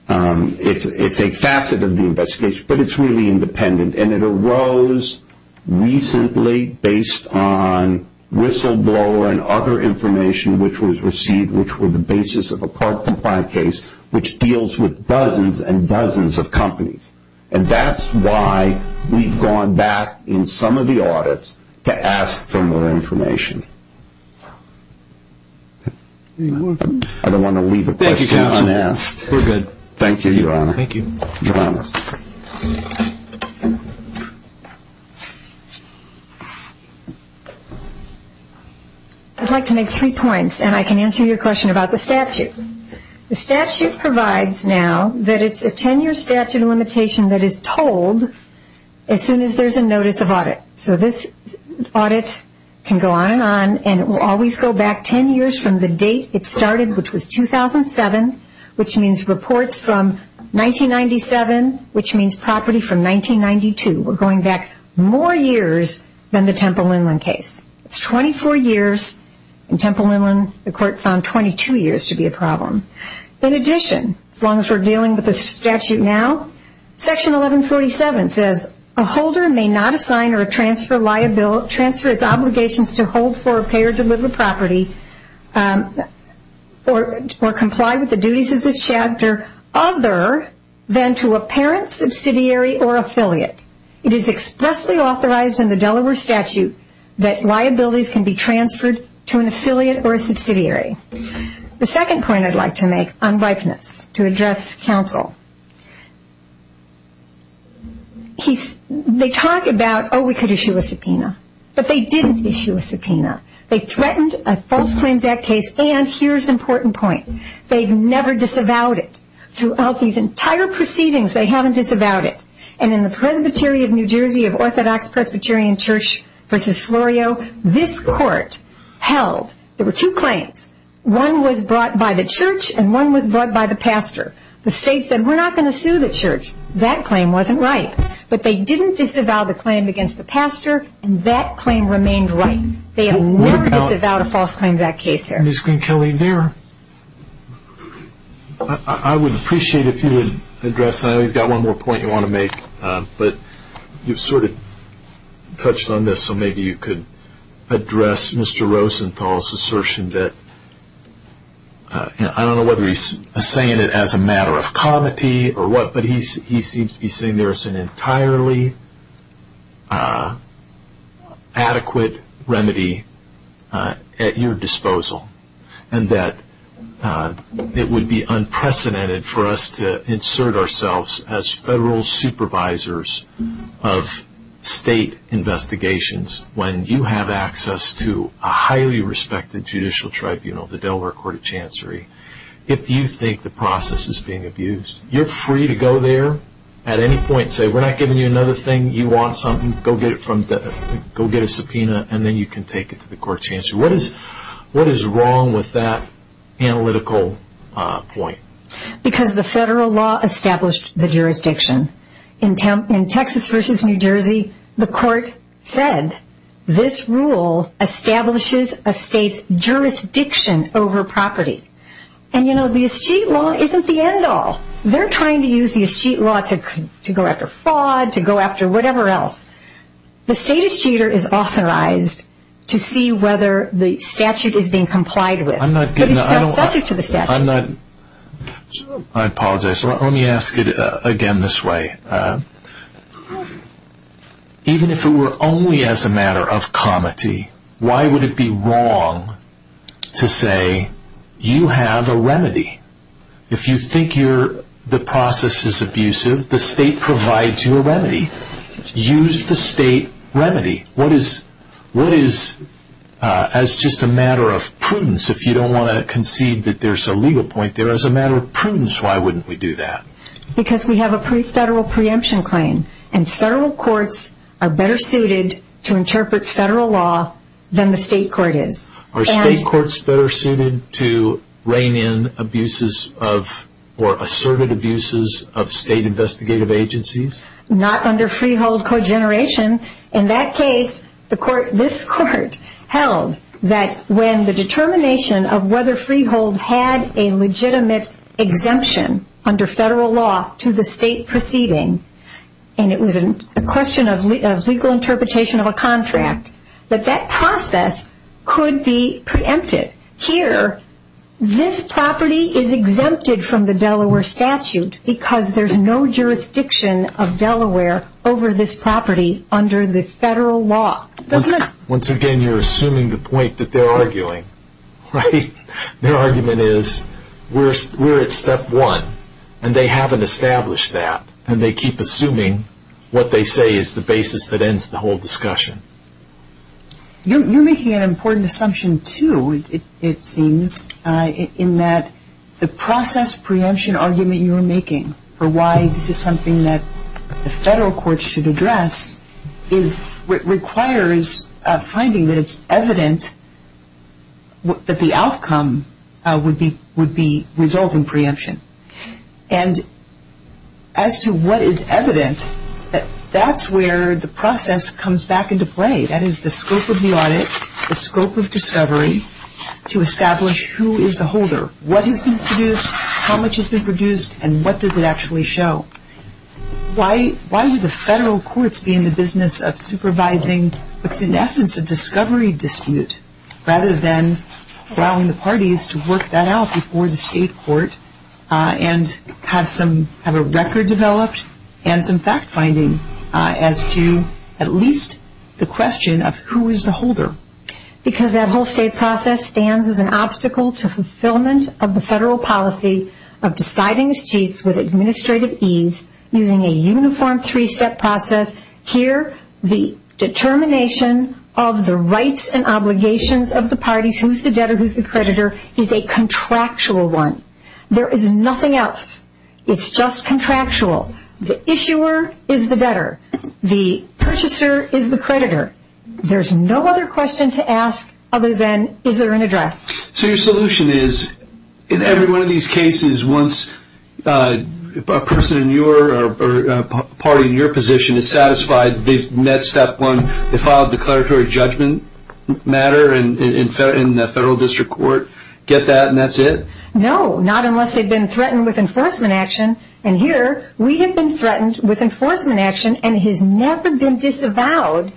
a facet of the investigation, but it's really independent. And it arose recently based on whistleblower and other information which was received, which were the basis of a card-compliant case, which deals with dozens and dozens of companies. And that's why we've gone back in some of the audits to ask for more information. I don't want to leave a question unasked. Thank you, counsel. We're good. Thank you, your honor. Thank you. Your honors. I'd like to make three points, and I can answer your question about the statute. The statute provides now that it's a 10-year statute of limitation that is told as soon as there's a notice of audit. So this audit can go on and on, and it will always go back 10 years from the date it started, which was 2007, which means reports from 1997, which means property from 1992. We're going back more years than the Temple Inland case. It's 24 years. In Temple Inland, the court found 22 years to be a problem. In addition, as long as we're dealing with the statute now, Section 1147 says, a holder may not assign or transfer its obligations to hold for, pay, or deliver property or comply with the duties of this chapter other than to a parent, subsidiary, or affiliate. It is expressly authorized in the Delaware statute that liabilities can be transferred to an affiliate or a subsidiary. The second point I'd like to make on ripeness to address counsel. They talk about, oh, we could issue a subpoena, but they didn't issue a subpoena. They threatened a false claims act case, and here's the important point. They've never disavowed it. Throughout these entire proceedings, they haven't disavowed it. And in the Presbytery of New Jersey of Orthodox Presbyterian Church v. Florio, this court held there were two claims. One was brought by the church, and one was brought by the pastor. The state said, we're not going to sue the church. That claim wasn't right. But they didn't disavow the claim against the pastor, and that claim remained right. They have never disavowed a false claims act case there. I would appreciate if you would address, and I know you've got one more point you want to make, but you've sort of touched on this, so maybe you could address Mr. Rosenthal's assertion that, I don't know whether he's saying it as a matter of comity or what, but he seems to be saying there's an entirely adequate remedy at your disposal, and that it would be unprecedented for us to insert ourselves as federal supervisors of state investigations when you have access to a highly respected judicial tribunal, the Delaware Court of Chancery. If you think the process is being abused, you're free to go there at any point and say, we're not giving you another thing, you want something, go get a subpoena, and then you can take it to the court chancery. What is wrong with that analytical point? Because the federal law established the jurisdiction. In Texas versus New Jersey, the court said this rule establishes a state's jurisdiction over property. And you know, the escheat law isn't the end all. They're trying to use the escheat law to go after fraud, to go after whatever else. The state escheater is authorized to see whether the statute is being complied with. But it's not subject to the statute. I apologize. Let me ask it again this way. Even if it were only as a matter of comity, why would it be wrong to say you have a remedy? If you think the process is abusive, the state provides you a remedy. Use the state remedy. What is, as just a matter of prudence, if you don't want to concede that there's a legal point there, as a matter of prudence, why wouldn't we do that? Because we have a pre-federal preemption claim. And federal courts are better suited to interpret federal law than the state court is. Are state courts better suited to rein in abuses of, or asserted abuses of state investigative agencies? Not under freehold cogeneration. In that case, this court held that when the determination of whether freehold had a legitimate exemption under federal law to the state proceeding, and it was a question of legal interpretation of a contract, that that process could be preempted. Here, this property is exempted from the Delaware statute because there's no jurisdiction of Delaware over this property under the federal law. Once again, you're assuming the point that they're arguing, right? Their argument is we're at step one, and they haven't established that, and they keep assuming what they say is the basis that ends the whole discussion. You're making an important assumption, too, it seems, in that the process preemption argument you're making for why this is something that the federal courts should address requires finding that it's evident that the outcome would be resulting preemption. And as to what is evident, that's where the process comes back into play. That is the scope of the audit, the scope of discovery to establish who is the holder, what has been produced, how much has been produced, and what does it actually show. Why would the federal courts be in the business of supervising what's in essence a discovery dispute rather than allowing the parties to work that out before the state court and have a record developed and some fact-finding as to at least the question of who is the holder. Because that whole state process stands as an obstacle to fulfillment of the federal policy of deciding disputes with administrative ease using a uniform three-step process. Here, the determination of the rights and obligations of the parties, who's the debtor, who's the creditor, is a contractual one. There is nothing else. It's just contractual. The issuer is the debtor. The purchaser is the creditor. There's no other question to ask other than is there an address. So your solution is, in every one of these cases, once a person or party in your position is satisfied they've met step one, they file a declaratory judgment matter in the federal district court, get that, and that's it? No, not unless they've been threatened with enforcement action. And here, we have been threatened with enforcement action and it has never been disavowed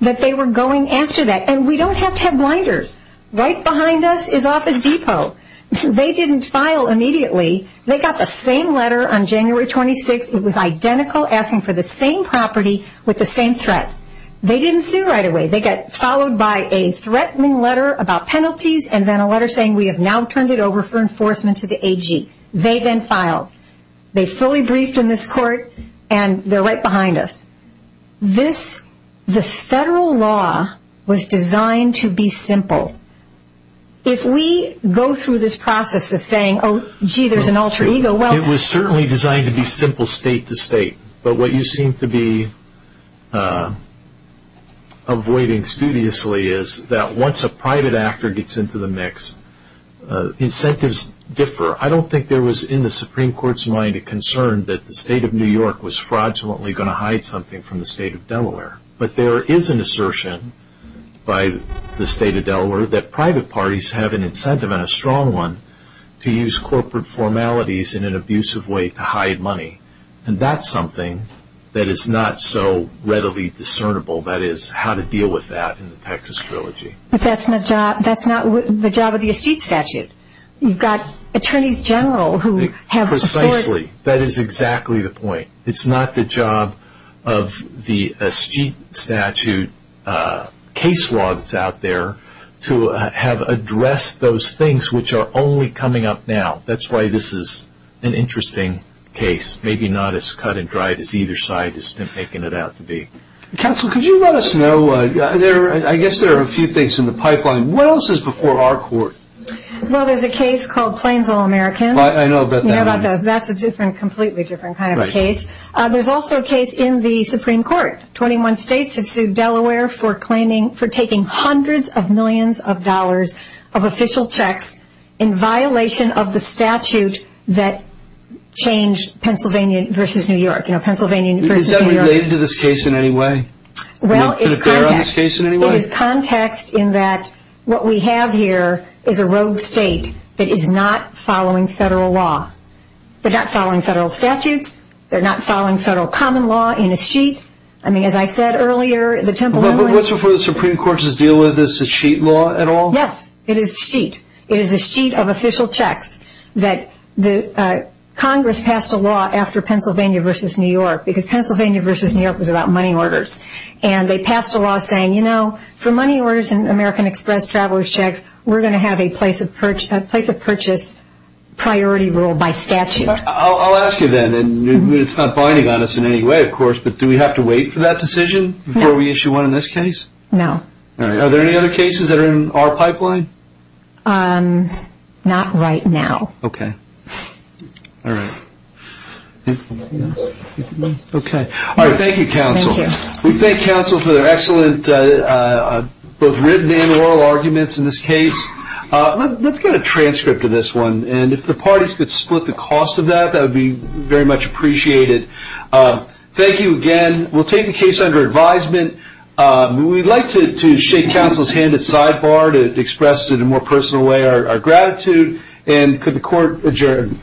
that they were going after that. And we don't have to have blinders. Right behind us is Office Depot. They didn't file immediately. They got the same letter on January 26th. It was identical, asking for the same property with the same threat. They didn't sue right away. They got followed by a threatening letter about penalties and then a letter saying we have now turned it over for enforcement to the AG. They then filed. They fully briefed in this court and they're right behind us. This, the federal law, was designed to be simple. If we go through this process of saying, oh, gee, there's an alter ego. Well, it was certainly designed to be simple state to state. But what you seem to be avoiding studiously is that once a private actor gets into the mix, incentives differ. I don't think there was, in the Supreme Court's mind, a concern that the state of New York was fraudulently going to hide something from the state of Delaware. But there is an assertion by the state of Delaware that private parties have an incentive and a strong one to use corporate formalities in an abusive way to hide money. And that's something that is not so readily discernible, that is how to deal with that in the Texas Trilogy. But that's not the job of the estate statute. You've got attorneys general who have afforded. Precisely. That is exactly the point. It's not the job of the estate statute case law that's out there to have addressed those things which are only coming up now. That's why this is an interesting case, maybe not as cut and dry as either side has been making it out to be. Counsel, could you let us know, I guess there are a few things in the pipeline. What else is before our court? Well, there's a case called Plains All-American. I know about that. You know about those. That's a completely different kind of case. There's also a case in the Supreme Court. Twenty-one states have sued Delaware for taking hundreds of millions of dollars of official checks in violation of the statute that changed Pennsylvania versus New York. You know, Pennsylvania versus New York. Is that related to this case in any way? Well, it's context. Is it there on this case in any way? It is context in that what we have here is a rogue state that is not following federal law. They're not following federal statutes. They're not following federal common law in a sheet. I mean, as I said earlier, the Temple- But what's before the Supreme Court to deal with this, is sheet law at all? Yes, it is sheet. It is a sheet of official checks that Congress passed a law after Pennsylvania versus New York because Pennsylvania versus New York was about money orders. And they passed a law saying, you know, for money orders and American Express traveler's checks, we're going to have a place of purchase priority rule by statute. I'll ask you then, and it's not binding on us in any way, of course, but do we have to wait for that decision before we issue one in this case? No. All right. Are there any other cases that are in our pipeline? Not right now. Okay. All right. Okay. All right. Thank you, counsel. Thank you. We thank counsel for their excellent both written and oral arguments in this case. Let's get a transcript of this one, and if the parties could split the cost of that, that would be very much appreciated. Thank you again. We'll take the case under advisement. We'd like to shake counsel's hand at sidebar to express in a more personal way our gratitude. And could the court adjourn?